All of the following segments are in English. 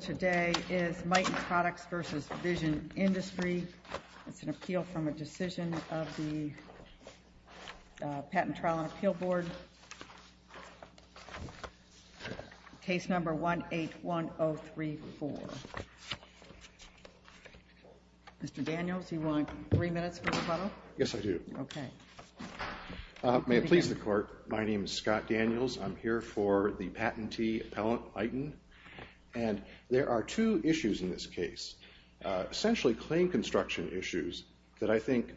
today is Mitin Products v. Vision Industries. It's an appeal from a decision of the Patent Trial and Appeal Board, case number 181034. Mr. Daniels, do you want three minutes for the plenum? Yes, I do. Okay. May it please the Court, my name is Scott Daniels. I'm here for the Patentee Appellant item. And there are two issues in this case, essentially claim construction issues that I think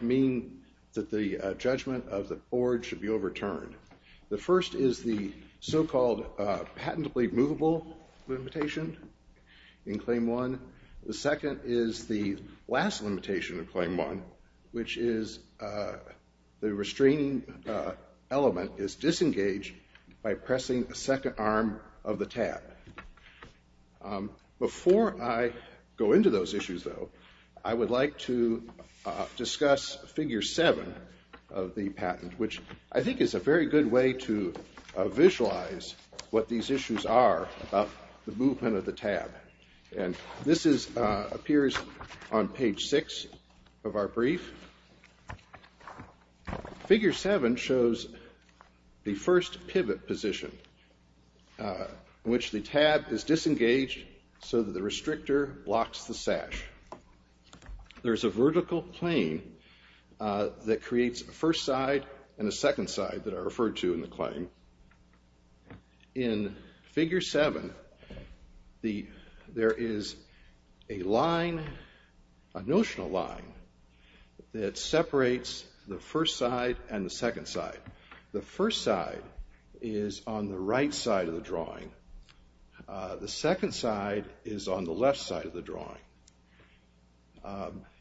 mean that the judgment of the Board should be overturned. The first is the so-called patentably movable limitation in Claim 1. The second is the last limitation in Claim 1, which is the restraining element is disengaged by pressing the second arm of the tab. Before I go into those issues, though, I would like to discuss Figure 7 of the patent, which I think is a very good way to visualize what these issues are about the basics of our brief. Figure 7 shows the first pivot position in which the tab is disengaged so that the restrictor blocks the sash. There's a vertical plane that creates a first side and a second side that are referred to in the claim. In Figure 7, there is a line, a notional line, that separates the first side and the second side. The first side is on the right side of the drawing. The second side is on the left side of the drawing.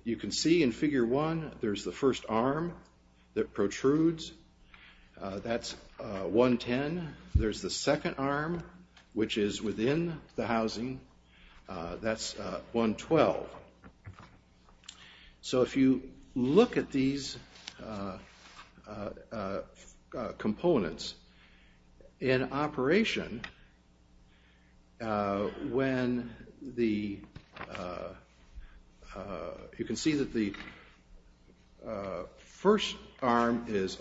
You can see in Figure 1, there's the first arm that protrudes. That's 110. There's the second arm, which is within the housing. That's 112. So if you look at these components in operation, you can see that the first arm is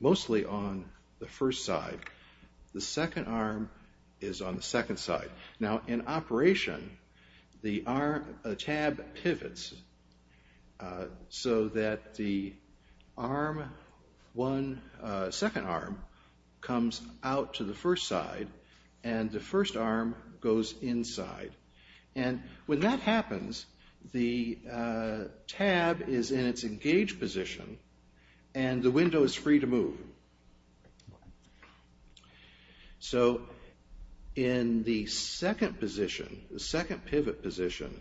mostly on the first side. The second arm is on the left side. You can see that the second arm comes out to the first side, and the first arm goes inside. When that happens, the tab is in its engaged position, and the window is free to move. In the second pivot position,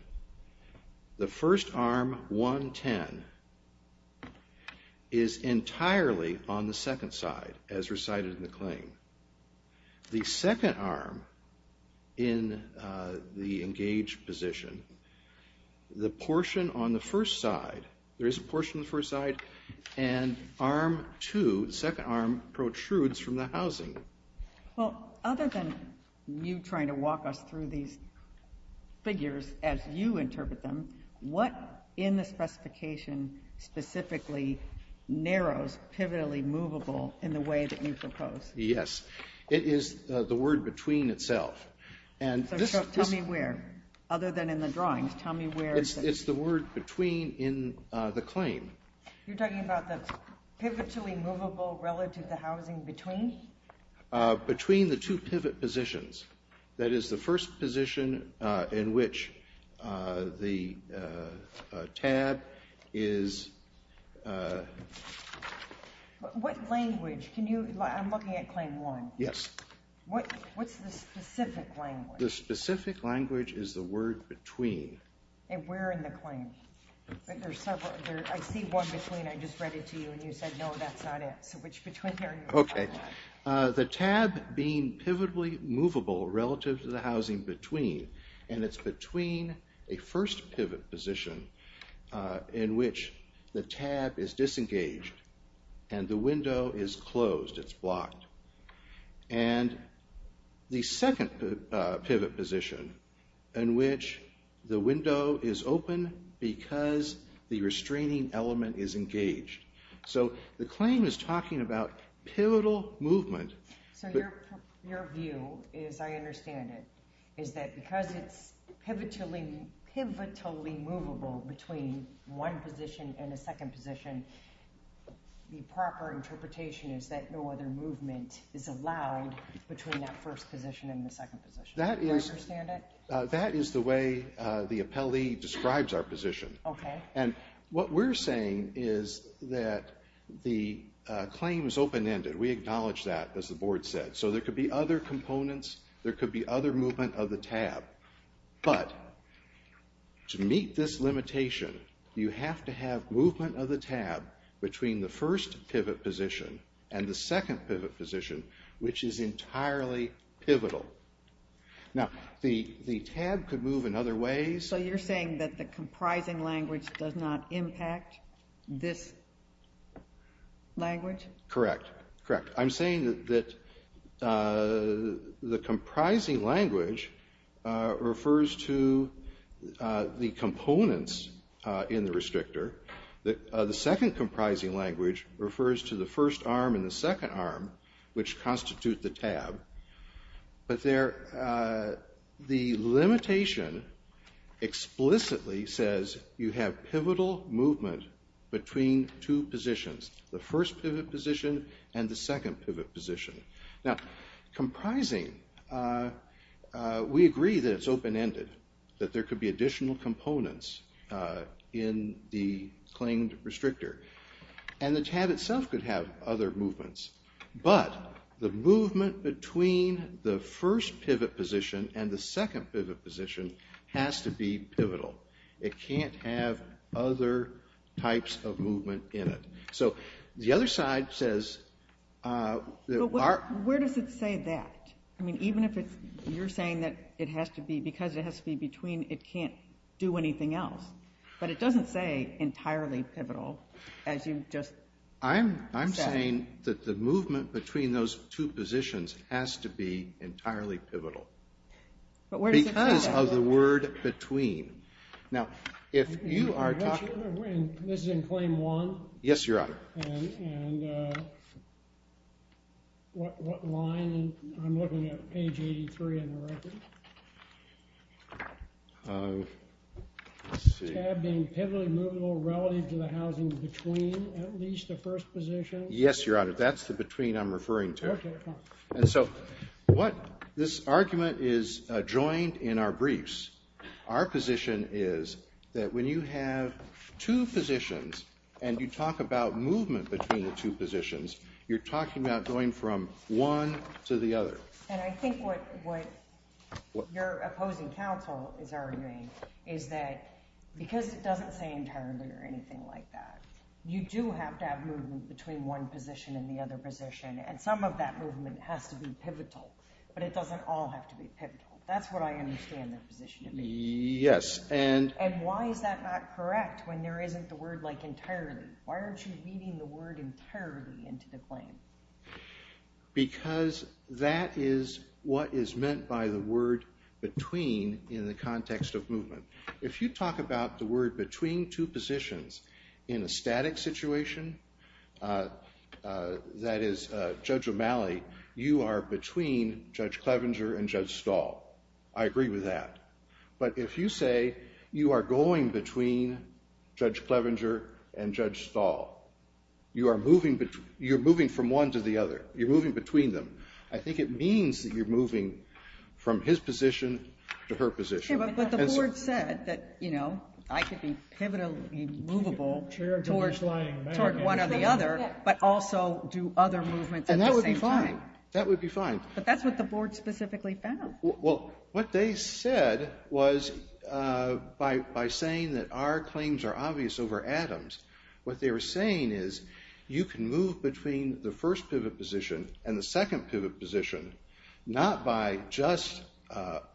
the first arm, 110, is entirely on the second side, as recited in the claim. The second arm in the engaged position, the portion on the first side, there is a portion on the first side, and arm 2, the second arm, protrudes from the housing. Well, other than you trying to walk us through these figures as you interpret them, what in the specification specifically narrows pivotally movable in the way that you propose? Yes. It is the word between itself. So tell me where, other than in the drawings. It's the word between in the claim. You're talking about the pivotally movable relative to housing between? Between the two pivot positions. That is the first position in which the tab is... What language? I'm looking at claim 1. Yes. What's the specific language? The specific language is the word between. And where in the claim? I see one between. I just read it to you, and you said, no, that's not it. So which between are you talking about? Okay. The tab being pivotally movable relative to the housing between, and it's between a first pivot position in which the tab is disengaged and the window is closed. It's blocked. And the second pivot position in which the window is open because the restraining element is engaged. So the claim is talking about pivotal movement. So your view is, I understand it, is that because it's pivotally movable between one position and a second position, the proper interpretation is that no other movement is allowed between that first position and the second position. Do you understand it? That is the way the appellee describes our position. Okay. And what we're saying is that the claim is open-ended. We acknowledge that, as the board said. So there could be other components. There could be other movement of the tab. But to meet this limitation, you have to have movement of the tab between the first pivot position and the second pivot position, which is entirely pivotal. Now, the tab could move in other ways. So you're saying that the comprising language does not impact this language? Correct. Correct. I'm saying that the comprising language refers to the components in the restrictor. The second comprising language refers to the first arm and the second arm, which constitute the tab. But the limitation explicitly says you have pivotal movement between two positions, the first pivot position and the second pivot position. Now, comprising, we agree that it's open-ended, that there could be additional components in the claimed restrictor. And the tab itself could have other movements. But the movement between the first pivot position and the second pivot position has to be pivotal. It can't have other types of movement in it. So the other side says... Where does it say that? I mean, even if you're saying that it has to be, because it has to be between, it can't do anything else. But it doesn't say entirely pivotal, as you just said. I'm saying that the movement between those two positions has to be entirely pivotal. But where does it say that? Because of the word between. Now, if you are talking... This is in Claim 1? Yes, Your Honor. And what line? I'm looking at page 83 in the record. Tab being pivotal relative to the housing between at least the first position? Yes, Your Honor. That's the between I'm referring to. And so what this argument is joined in our briefs, our position is that when you have two positions and you talk about movement between the two positions, you're talking about going from one to the other. And I think what your opposing counsel is arguing is that because it doesn't say entirely or anything like that, you do have to have movement between one position and the other position. And some of that movement has to be pivotal, but it doesn't all have to be pivotal. That's what I understand the position to be. Yes, and... And why is that not correct when there isn't the word like entirely? Why aren't you reading the word entirely into the claim? Because that is what is meant by the word between in the context of movement. If you talk about the word between two positions in a static situation, that is, Judge O'Malley, you are between Judge Clevenger and Judge Stahl. I agree with that. But if you say you are going between Judge Clevenger and Judge Stahl, you are moving from one to the other. You're moving between them. I think it means that you're moving from his position to her position. But the board said that, you know, I should be pivotally movable towards one or the other, but also do other movements at the same time. That would be fine. But that's what the board specifically found. Well, what they said was by saying that our claims are obvious over Adams, what they were saying is you can move between the first pivot position and the second pivot position, not by just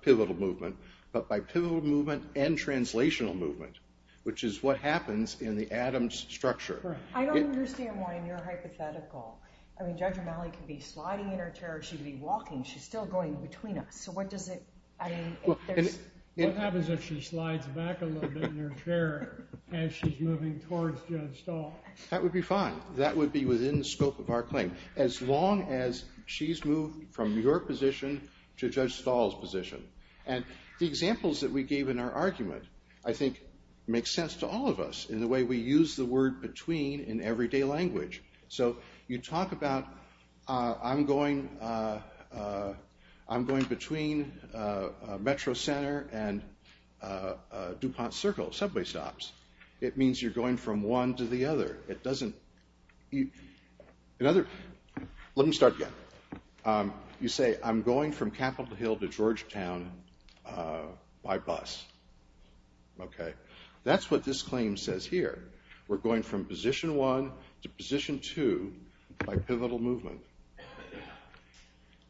pivotal movement, but by pivotal movement and translational movement, which is what happens in the Adams structure. Right. I don't understand why you're hypothetical. I mean, Judge O'Malley could be sliding in her chair. She could be walking. She's still going between us. So what does it, I mean, if there's... What happens if she slides back a little bit in her chair as she's moving towards Judge Stahl? That would be fine. That would be within the scope of our claim, as long as she's moved from your position to Judge Stahl's position. And the examples that we gave in our argument, I think, makes sense to all of us in the way we use the word between in everyday language. So you talk about, I'm going between Metro Center and DuPont Circle, subway stops. It means you're going from one to the other. It doesn't... Let me start again. You say, I'm going from Capitol Hill to Georgetown by bus. Okay. That's what this claim says here. We're going from position one to position two by pivotal movement.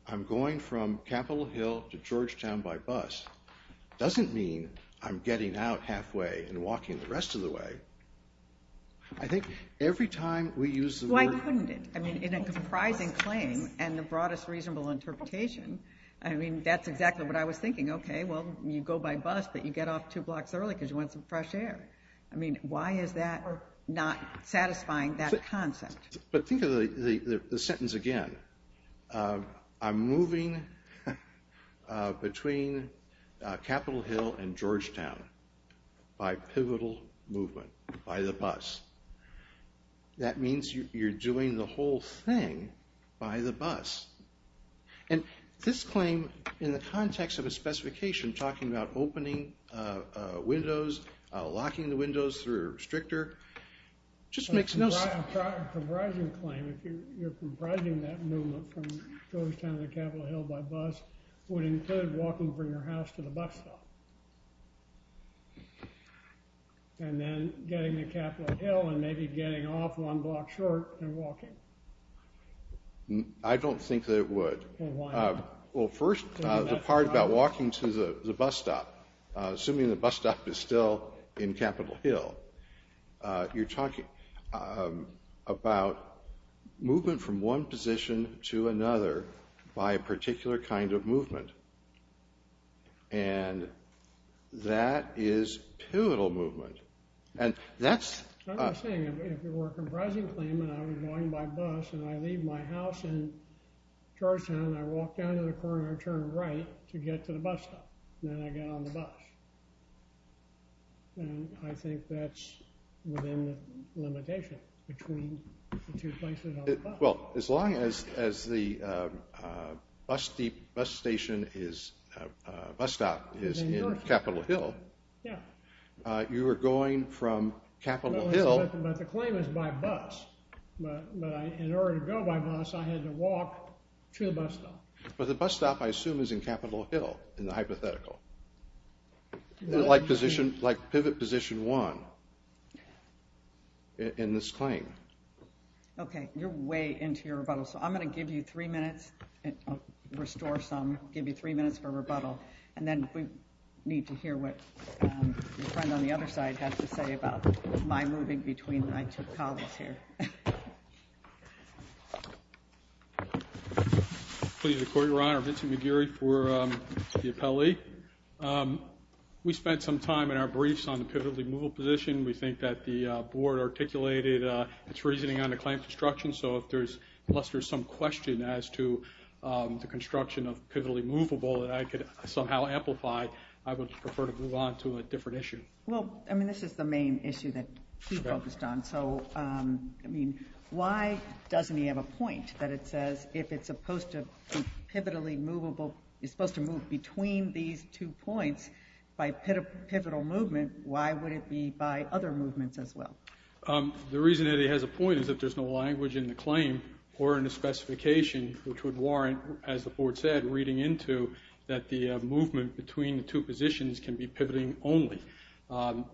I'm going from Capitol Hill to Georgetown by bus. It doesn't mean I'm getting out halfway and walking the rest of the way. I think every time we use the word... Why couldn't it? I mean, in a comprising claim and the broadest reasonable interpretation, I mean, that's exactly what I was thinking. Okay. Well, you go by bus, but you get off two blocks early because you want some fresh air. I mean, why is that not satisfying that concept? But think of the sentence again. I'm moving between Capitol Hill and Georgetown by pivotal movement, by the bus. That means you're doing the whole thing by the bus. And this claim, in the context of a specification, talking about opening windows, locking the windows through a restrictor, just makes no sense. A comprising claim, if you're comprising that movement from Georgetown to Capitol Hill by bus, would include walking from your house to the bus stop. And then getting to Capitol Hill and maybe getting off one block short and walking. I don't think that it would. Well, why not? Well, first, the part about walking to the bus stop. Assuming the bus stop is still in Capitol Hill. You're talking about movement from one position to another by a particular kind of movement. And that is pivotal movement. And that's... I was saying, if you were a comprising claim and I was going by bus and I leave my house in the corner and turn right to get to the bus stop, then I get on the bus. And I think that's within the limitation between the two places on the bus. Well, as long as the bus stop is in Capitol Hill, you are going from Capitol Hill... But the claim is by bus. But in order to go by bus, I had to walk to the bus stop. But the bus stop, I assume, is in Capitol Hill in the hypothetical. Like pivot position one in this claim. Okay. You're way into your rebuttal. So I'm going to give you three minutes. Restore some. Give you three minutes for rebuttal. And then we need to hear what the friend on the other side has to say about my moving between I took college here. Okay. Please record your honor, Vincent McGeary for the appellee. We spent some time in our briefs on the pivotally movable position. We think that the board articulated its reasoning on the claim construction. So if there's... Unless there's some question as to the construction of pivotally movable that I could somehow amplify, I would prefer to move on to a different issue. Well, I mean, this is the main issue that we focused on. I mean, why doesn't he have a point that it says if it's supposed to pivotally movable, it's supposed to move between these two points by pivotal movement, why would it be by other movements as well? The reason that he has a point is that there's no language in the claim or in the specification which would warrant, as the board said, reading into that the movement between the two positions can be pivoting only.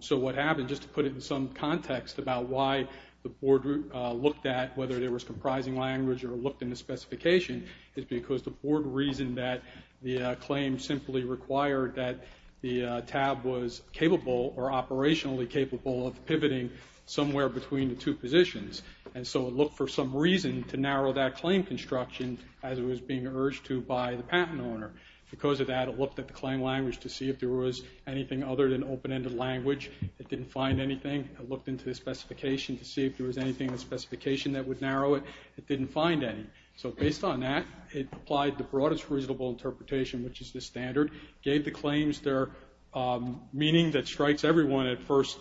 So what happened, just to put it in some context about why the board looked at whether there was comprising language or looked in the specification, is because the board reasoned that the claim simply required that the tab was capable or operationally capable of pivoting somewhere between the two positions. And so it looked for some reason to narrow that claim construction as it was being urged to by the patent owner. Because of that, it looked at the claim language to see if there was anything other than open ended language. It didn't find anything. It looked into the specification to see if there was anything in the specification that would narrow it. It didn't find any. So based on that, it applied the broadest reasonable interpretation, which is the standard, gave the claims their meaning that strikes everyone at first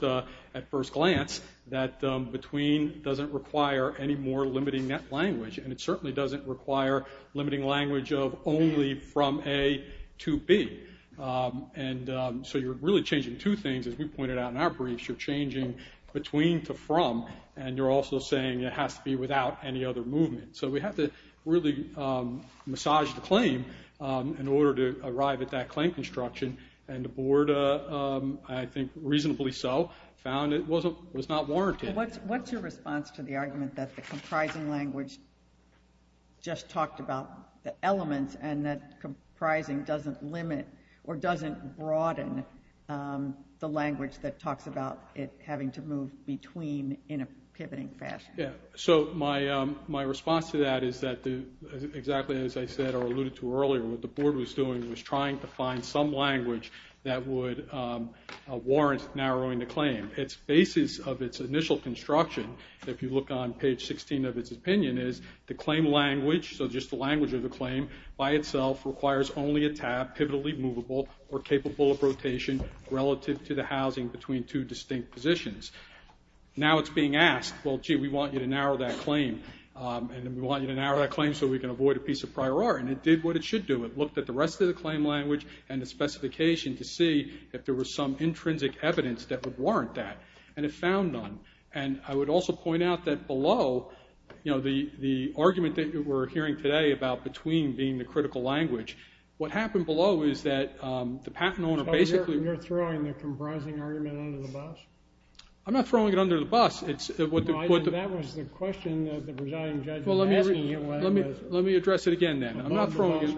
glance, that between doesn't require any more limiting that language. And it certainly doesn't require limiting language of only from A to B. And so you're really changing two things. As we pointed out in our briefs, you're changing between to from. And you're also saying it has to be without any other movement. So we have to really massage the claim in order to arrive at that claim construction. And the board, I think reasonably so, found it was not warranted. What's your response to the argument that the comprising language just talked about the elements and that comprising doesn't limit or doesn't broaden the language that talks about it having to move between in a pivoting fashion? Yeah. So my response to that is that exactly as I said or alluded to earlier, what the board was doing was trying to find some language that would warrant narrowing the claim. Its basis of its initial construction, if you look on page 16 of its opinion, is the language of the claim by itself requires only a tab, pivotally movable, or capable of rotation relative to the housing between two distinct positions. Now it's being asked, well, gee, we want you to narrow that claim. And we want you to narrow that claim so we can avoid a piece of prior art. And it did what it should do. It looked at the rest of the claim language and the specification to see if there were some intrinsic evidence that would warrant that. And it found none. And I would also point out that below, the argument that we're hearing today about between being the critical language, what happened below is that the patent owner basically- So you're throwing the comprising argument under the bus? I'm not throwing it under the bus. No, I think that was the question that the presiding judge was asking you was- Let me address it again then. I'm not throwing it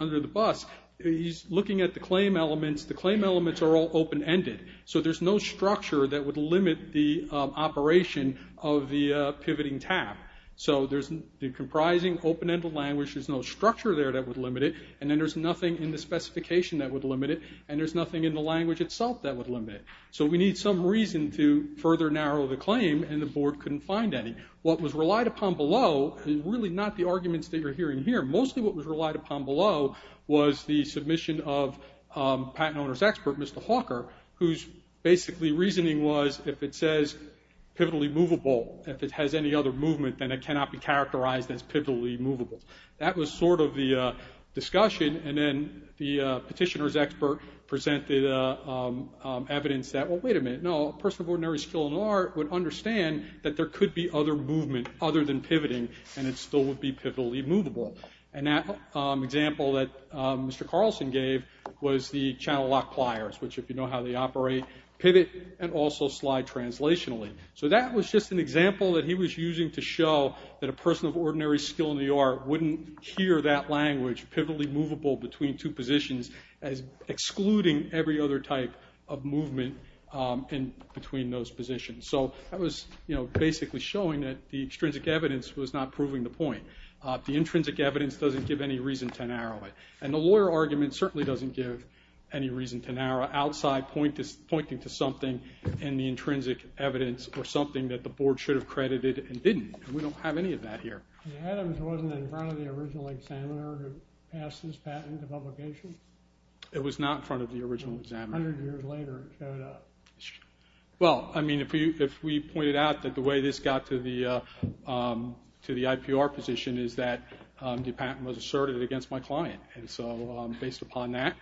under the bus. He's looking at the claim elements. The claim elements are all open-ended. So there's no structure that would limit the operation of the pivoting tab. So there's the comprising open-ended language. There's no structure there that would limit it. And then there's nothing in the specification that would limit it. And there's nothing in the language itself that would limit it. So we need some reason to further narrow the claim. And the board couldn't find any. What was relied upon below is really not the arguments that you're hearing here. Mostly what was relied upon below was the submission of patent owner's expert, Mr. Hawker, whose basically reasoning was if it says pivotally movable, if it has any other movement, then it cannot be characterized as pivotally movable. That was sort of the discussion. And then the petitioner's expert presented evidence that, well, wait a minute. No, a person of ordinary skill and art would understand that there could be other movement other than pivoting, and it still would be pivotally movable. And that example that Mr. Carlson gave was the channel lock pliers, which if you know how they operate, pivot and also slide translationally. So that was just an example that he was using to show that a person of ordinary skill and the art wouldn't hear that language, pivotally movable between two positions, as excluding every other type of movement between those positions. So that was basically showing that the extrinsic evidence was not proving the point. The intrinsic evidence doesn't give any reason to narrow it. And the lawyer argument certainly doesn't give any reason to narrow outside pointing to something in the intrinsic evidence or something that the board should have credited and didn't. We don't have any of that here. And Adams wasn't in front of the original examiner who passed this patent to publication? It was not in front of the original examiner. A hundred years later, it showed up. Well, I mean, if we pointed out that the way this got to the IPR position is that the patent was asserted against my client. And so based upon that,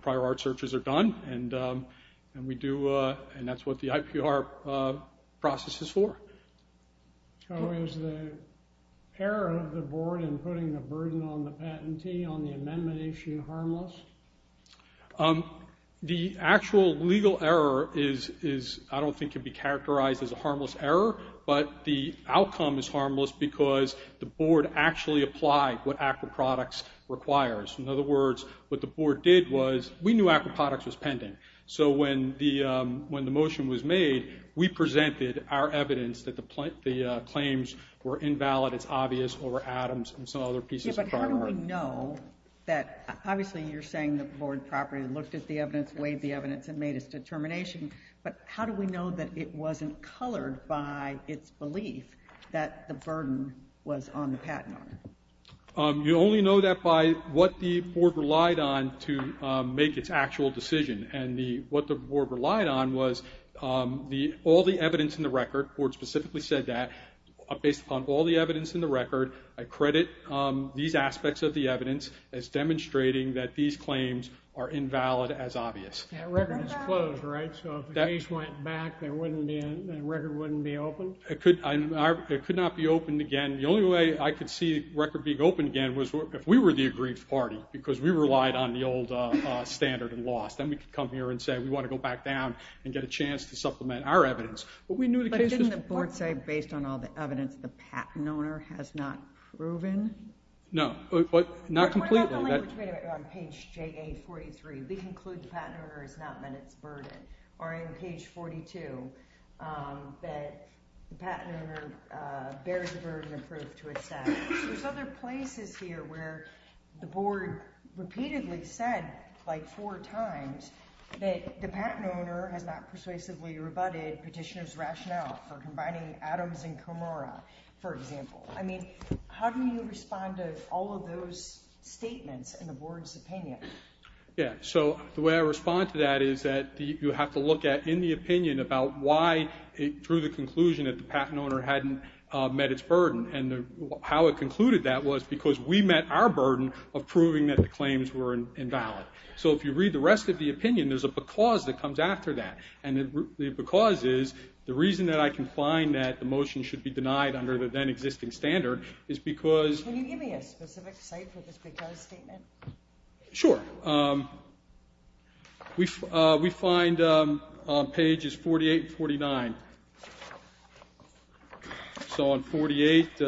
prior art searches are done. And that's what the IPR process is for. So is the error of the board in putting the burden on the patentee on the amendment issue harmless? The actual legal error is, I don't think, can be characterized as a harmless error. But the outcome is harmless because the board actually applied what Acroproducts requires. In other words, what the board did was, we knew Acroproducts was pending. So when the motion was made, we presented our evidence that the claims were invalid. It's obvious over Adams and some other pieces of prior art. How do we know that, obviously, you're saying the board properly looked at the evidence, weighed the evidence, and made its determination. But how do we know that it wasn't colored by its belief that the burden was on the patent owner? You only know that by what the board relied on to make its actual decision. And what the board relied on was all the evidence in the record. The board specifically said that. Based upon all the evidence in the record, I credit these aspects of the evidence as demonstrating that these claims are invalid as obvious. That record is closed, right? So if the case went back, that record wouldn't be open? It could not be opened again. The only way I could see the record being open again was if we were the agreed party. Because we relied on the old standard and laws. Then we could come here and say, we want to go back down and get a chance to supplement our evidence. But didn't the board say, based on all the evidence, the patent owner has not proven? No, not completely. What about the language made on page JA43? We conclude the patent owner has not met its burden. Or in page 42, that the patent owner bears the burden of proof to assess. There's other places here where the board repeatedly said, like four times, that the combining Adams and Comora, for example. I mean, how do you respond to all of those statements in the board's opinion? Yeah, so the way I respond to that is that you have to look at in the opinion about why it drew the conclusion that the patent owner hadn't met its burden. And how it concluded that was because we met our burden of proving that the claims were invalid. So if you read the rest of the opinion, there's a because that comes after that. And the because is the reason that I can find that the motion should be denied under the then existing standard is because- Can you give me a specific site for this because statement? Sure. We find on pages 48 and 49. So on 48,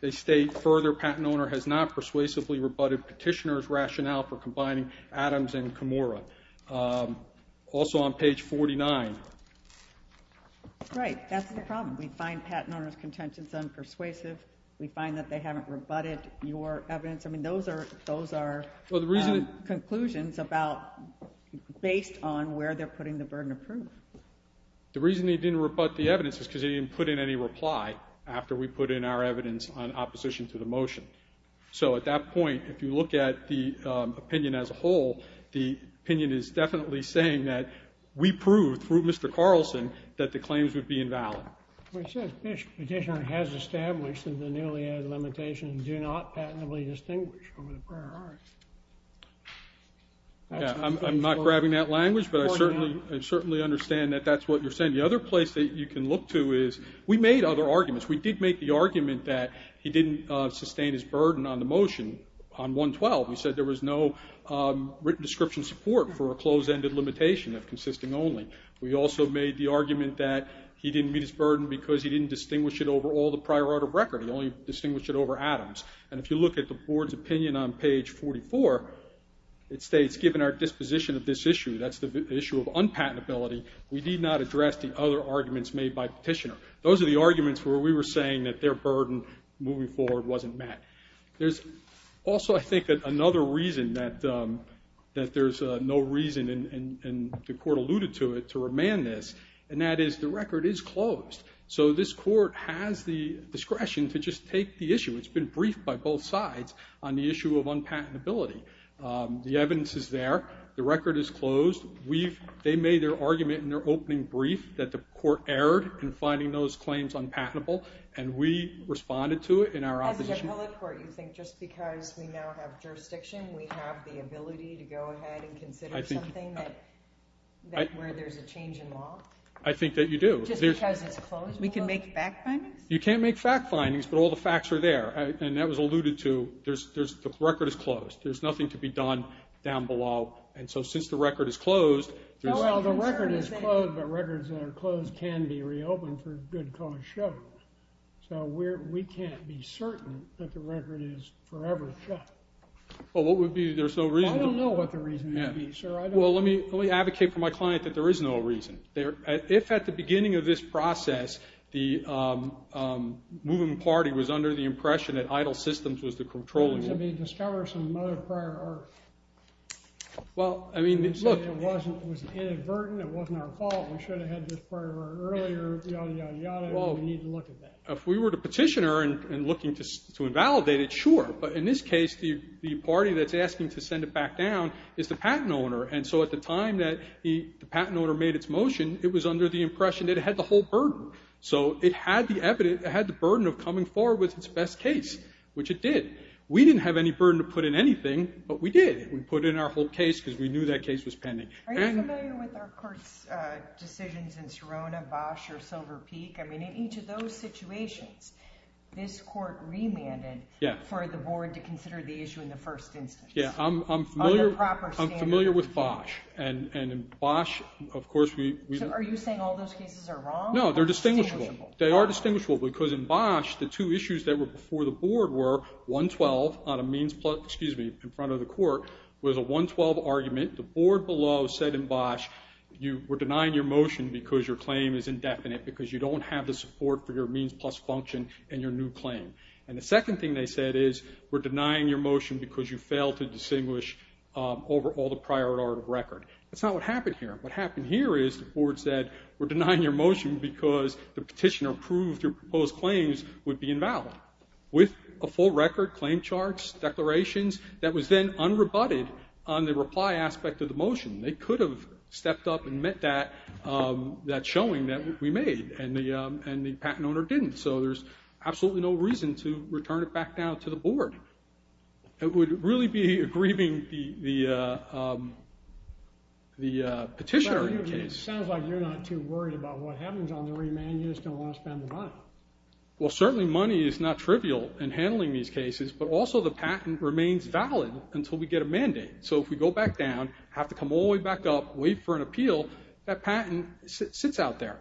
they state, further, patent owner has not persuasively rebutted petitioner's rationale for combining Adams and Comora. Also on page 49. Right. That's the problem. We find patent owner's contentions unpersuasive. We find that they haven't rebutted your evidence. I mean, those are conclusions about based on where they're putting the burden of proof. The reason they didn't rebut the evidence is because they didn't put in any reply after we put in our evidence on opposition to the motion. So at that point, if you look at the opinion as a whole, the opinion is definitely saying that we proved, through Mr. Carlson, that the claims would be invalid. It says petitioner has established that the newly added limitations do not patently distinguish over the prior art. Yeah, I'm not grabbing that language, but I certainly understand that that's what you're saying. The other place that you can look to is we made other arguments. We did make the argument that he didn't sustain his burden on the motion on 112. We said there was no written description support for a closed-ended limitation, if consisting only. We also made the argument that he didn't meet his burden because he didn't distinguish it over all the prior art of record. He only distinguished it over Adams. And if you look at the board's opinion on page 44, it states, given our disposition of this issue, that's the issue of unpatentability, we did not address the other arguments made by petitioner. Those are the arguments where we were saying that their burden, moving forward, wasn't met. There's also, I think, another reason that there's no reason, and the court alluded to it, to remand this, and that is the record is closed. So this court has the discretion to just take the issue. It's been briefed by both sides on the issue of unpatentability. The evidence is there. The record is closed. They made their argument in their opening brief that the court erred in finding those claims unpatentable, and we responded to it in our opposition. As an appellate court, you think just because we now have jurisdiction, we have the ability to go ahead and consider something where there's a change in law? I think that you do. Just because it's closed? We can make fact findings? You can't make fact findings, but all the facts are there. And that was alluded to. The record is closed. There's nothing to be done down below. And so since the record is closed, there's... Good cause shows. So we can't be certain that the record is forever shut. Well, what would be? There's no reason to... I don't know what the reason would be, sir. Well, let me advocate for my client that there is no reason. If at the beginning of this process, the moving party was under the impression that EIDL Systems was the controlling... Let me discover some Mother Prior Earth. Well, I mean, look... It was inadvertent. It wasn't our fault. We should have had this prior earlier, yada, yada, yada, and we need to look at that. If we were the petitioner and looking to invalidate it, sure. But in this case, the party that's asking to send it back down is the patent owner. And so at the time that the patent owner made its motion, it was under the impression that it had the whole burden. So it had the burden of coming forward with its best case, which it did. We didn't have any burden to put in anything, but we did. We put in our whole case because we knew that case was pending. Are you familiar with our court's decisions in Serona, Bosch, or Silver Peak? I mean, in each of those situations, this court remanded for the board to consider the issue in the first instance. Yeah, I'm familiar with Bosch, and in Bosch, of course, we... Are you saying all those cases are wrong? No, they're distinguishable. They are distinguishable because in Bosch, the two issues that were before the board were 112 on a means plus, excuse me, in front of the court, was a 112 argument. The board below said in Bosch, you were denying your motion because your claim is indefinite, because you don't have the support for your means plus function in your new claim. And the second thing they said is, we're denying your motion because you failed to distinguish over all the prior order of record. That's not what happened here. What happened here is the board said, we're denying your motion because the petitioner proposed claims would be invalid, with a full record, claim charts, declarations, that was then unrebutted on the reply aspect of the motion. They could have stepped up and met that showing that we made, and the patent owner didn't. So there's absolutely no reason to return it back down to the board. It would really be aggrieving the petitioner in your case. Sounds like you're not too worried about what happens on the remand. Well, certainly money is not trivial in handling these cases, but also the patent remains valid until we get a mandate. So if we go back down, have to come all the way back up, wait for an appeal, that patent sits out there.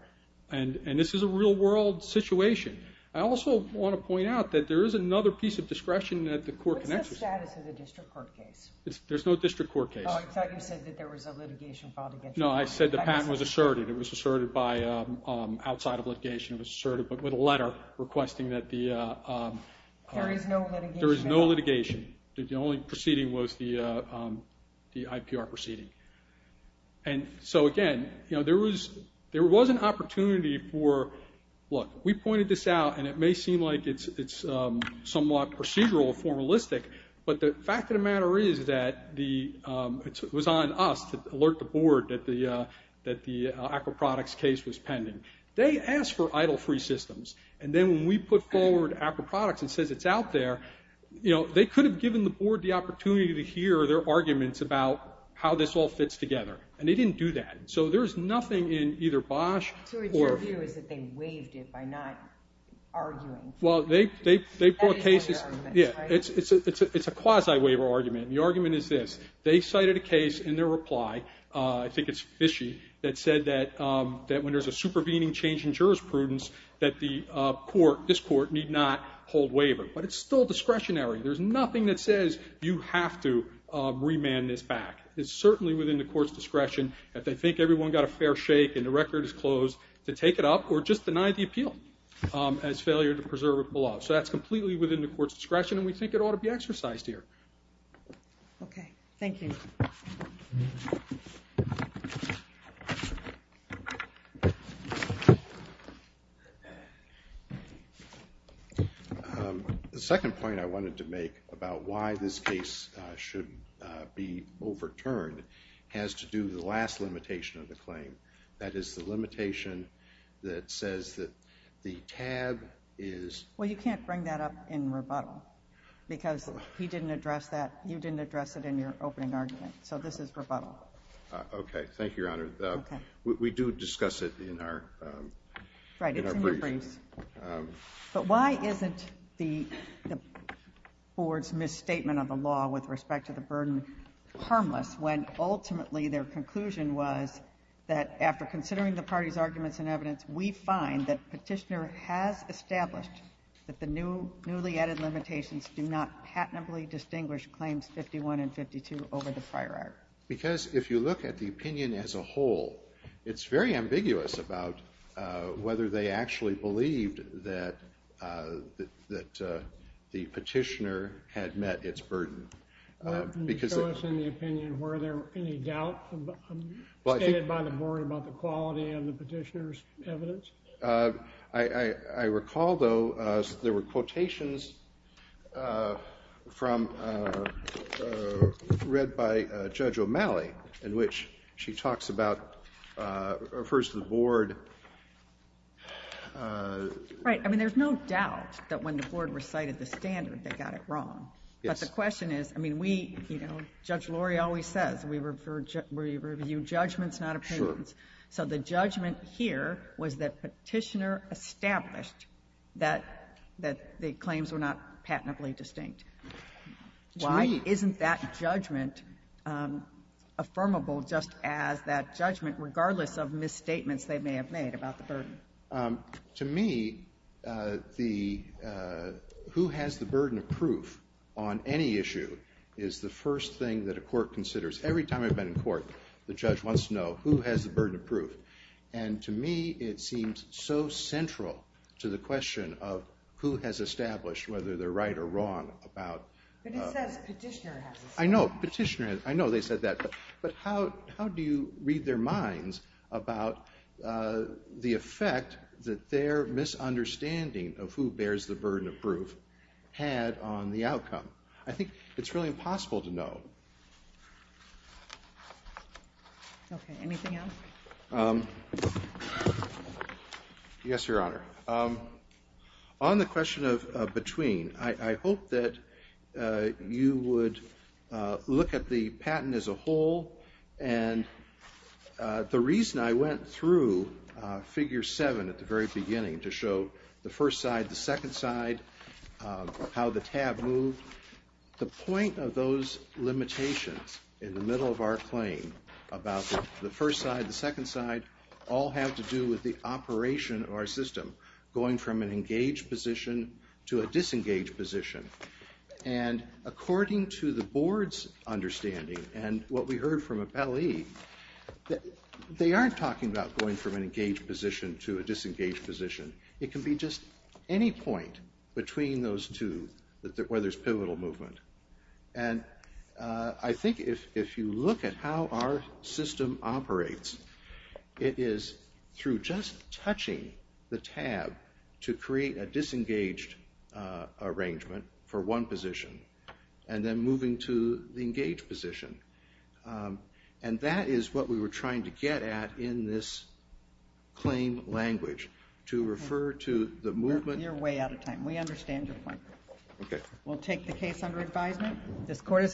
And this is a real world situation. I also want to point out that there is another piece of discretion that the court connects with. What's the status of the district court case? There's no district court case. Oh, I thought you said that there was a litigation filed against you. No, I said the patent was asserted. It was asserted outside of litigation. It was asserted with a letter requesting that the... There is no litigation. There is no litigation. The only proceeding was the IPR proceeding. And so again, there was an opportunity for... Look, we pointed this out and it may seem like it's somewhat procedural, formalistic, but the fact of the matter is that it was on us to alert the board that the aquaproducts case was pending. They asked for idle-free systems. And then when we put forward aquaproducts and says it's out there, they could have given the board the opportunity to hear their arguments about how this all fits together. And they didn't do that. So there's nothing in either Bosch or... So your view is that they waived it by not arguing? Well, they put cases... Yeah, it's a quasi waiver argument. The argument is this. They cited a case in their reply. I think it's Fishey that said that when there's a supervening change in jurisprudence that this court need not hold waiver. But it's still discretionary. There's nothing that says you have to remand this back. It's certainly within the court's discretion if they think everyone got a fair shake and the record is closed to take it up or just deny the appeal as failure to preserve it below. So that's completely within the court's discretion and we think it ought to be exercised here. Okay, thank you. Thank you. The second point I wanted to make about why this case should be overturned has to do with the last limitation of the claim. That is the limitation that says that the tab is... Well, you can't bring that up in rebuttal because he didn't address that. You didn't address it in your opening argument. So this is rebuttal. Okay, thank you, Your Honor. We do discuss it in our briefs. But why isn't the board's misstatement of the law with respect to the burden harmless when ultimately their conclusion was that after considering the party's arguments and evidence, we find that Petitioner has established that the newly added limitations do not patently distinguish claims 51 and 52 over the prior act? Because if you look at the opinion as a whole, it's very ambiguous about whether they actually believed that the Petitioner had met its burden. Can you show us in the opinion were there any doubt stated by the board about the quality of the Petitioner's evidence? I recall, though, there were quotations from, read by Judge O'Malley, in which she talks about, refers to the board... Right, I mean, there's no doubt that when the board recited the standard, they got it wrong. But the question is, I mean, we, you know, Judge Lori always says we review judgments, not opinions. So the judgment here was that Petitioner established that the claims were not patently distinct. Why isn't that judgment affirmable just as that judgment, regardless of misstatements they may have made about the burden? To me, the who has the burden of proof on any issue is the first thing that a court considers. Every time I've been in court, the judge wants to know who has the burden of proof. And to me, it seems so central to the question of who has established whether they're right or wrong about... But it says Petitioner has established. I know, Petitioner has, I know they said that. But how do you read their minds about the effect that their misunderstanding of who bears the burden of proof had on the outcome? I think it's really impossible to know. Okay, anything else? Yes, Your Honor. On the question of between, I hope that you would look at the patent as a whole. And the reason I went through figure seven at the very beginning to show the first side, the second side, how the tab moved, the point of those limitations in the middle of our claim about the first side, the second side, all have to do with the operation of our system, going from an engaged position to a disengaged position. And according to the board's understanding and what we heard from Appellee, they aren't talking about going from an engaged position to a disengaged position. It can be just any point between those two where there's pivotal movement. And I think if you look at how our system operates, it is through just touching the tab to create a disengaged arrangement for one position and then moving to the engaged position. And that is what we were trying to get at in this claim language, to refer to the movement. You're way out of time. We understand your point. We'll take the case under advisement. This court is adjourned.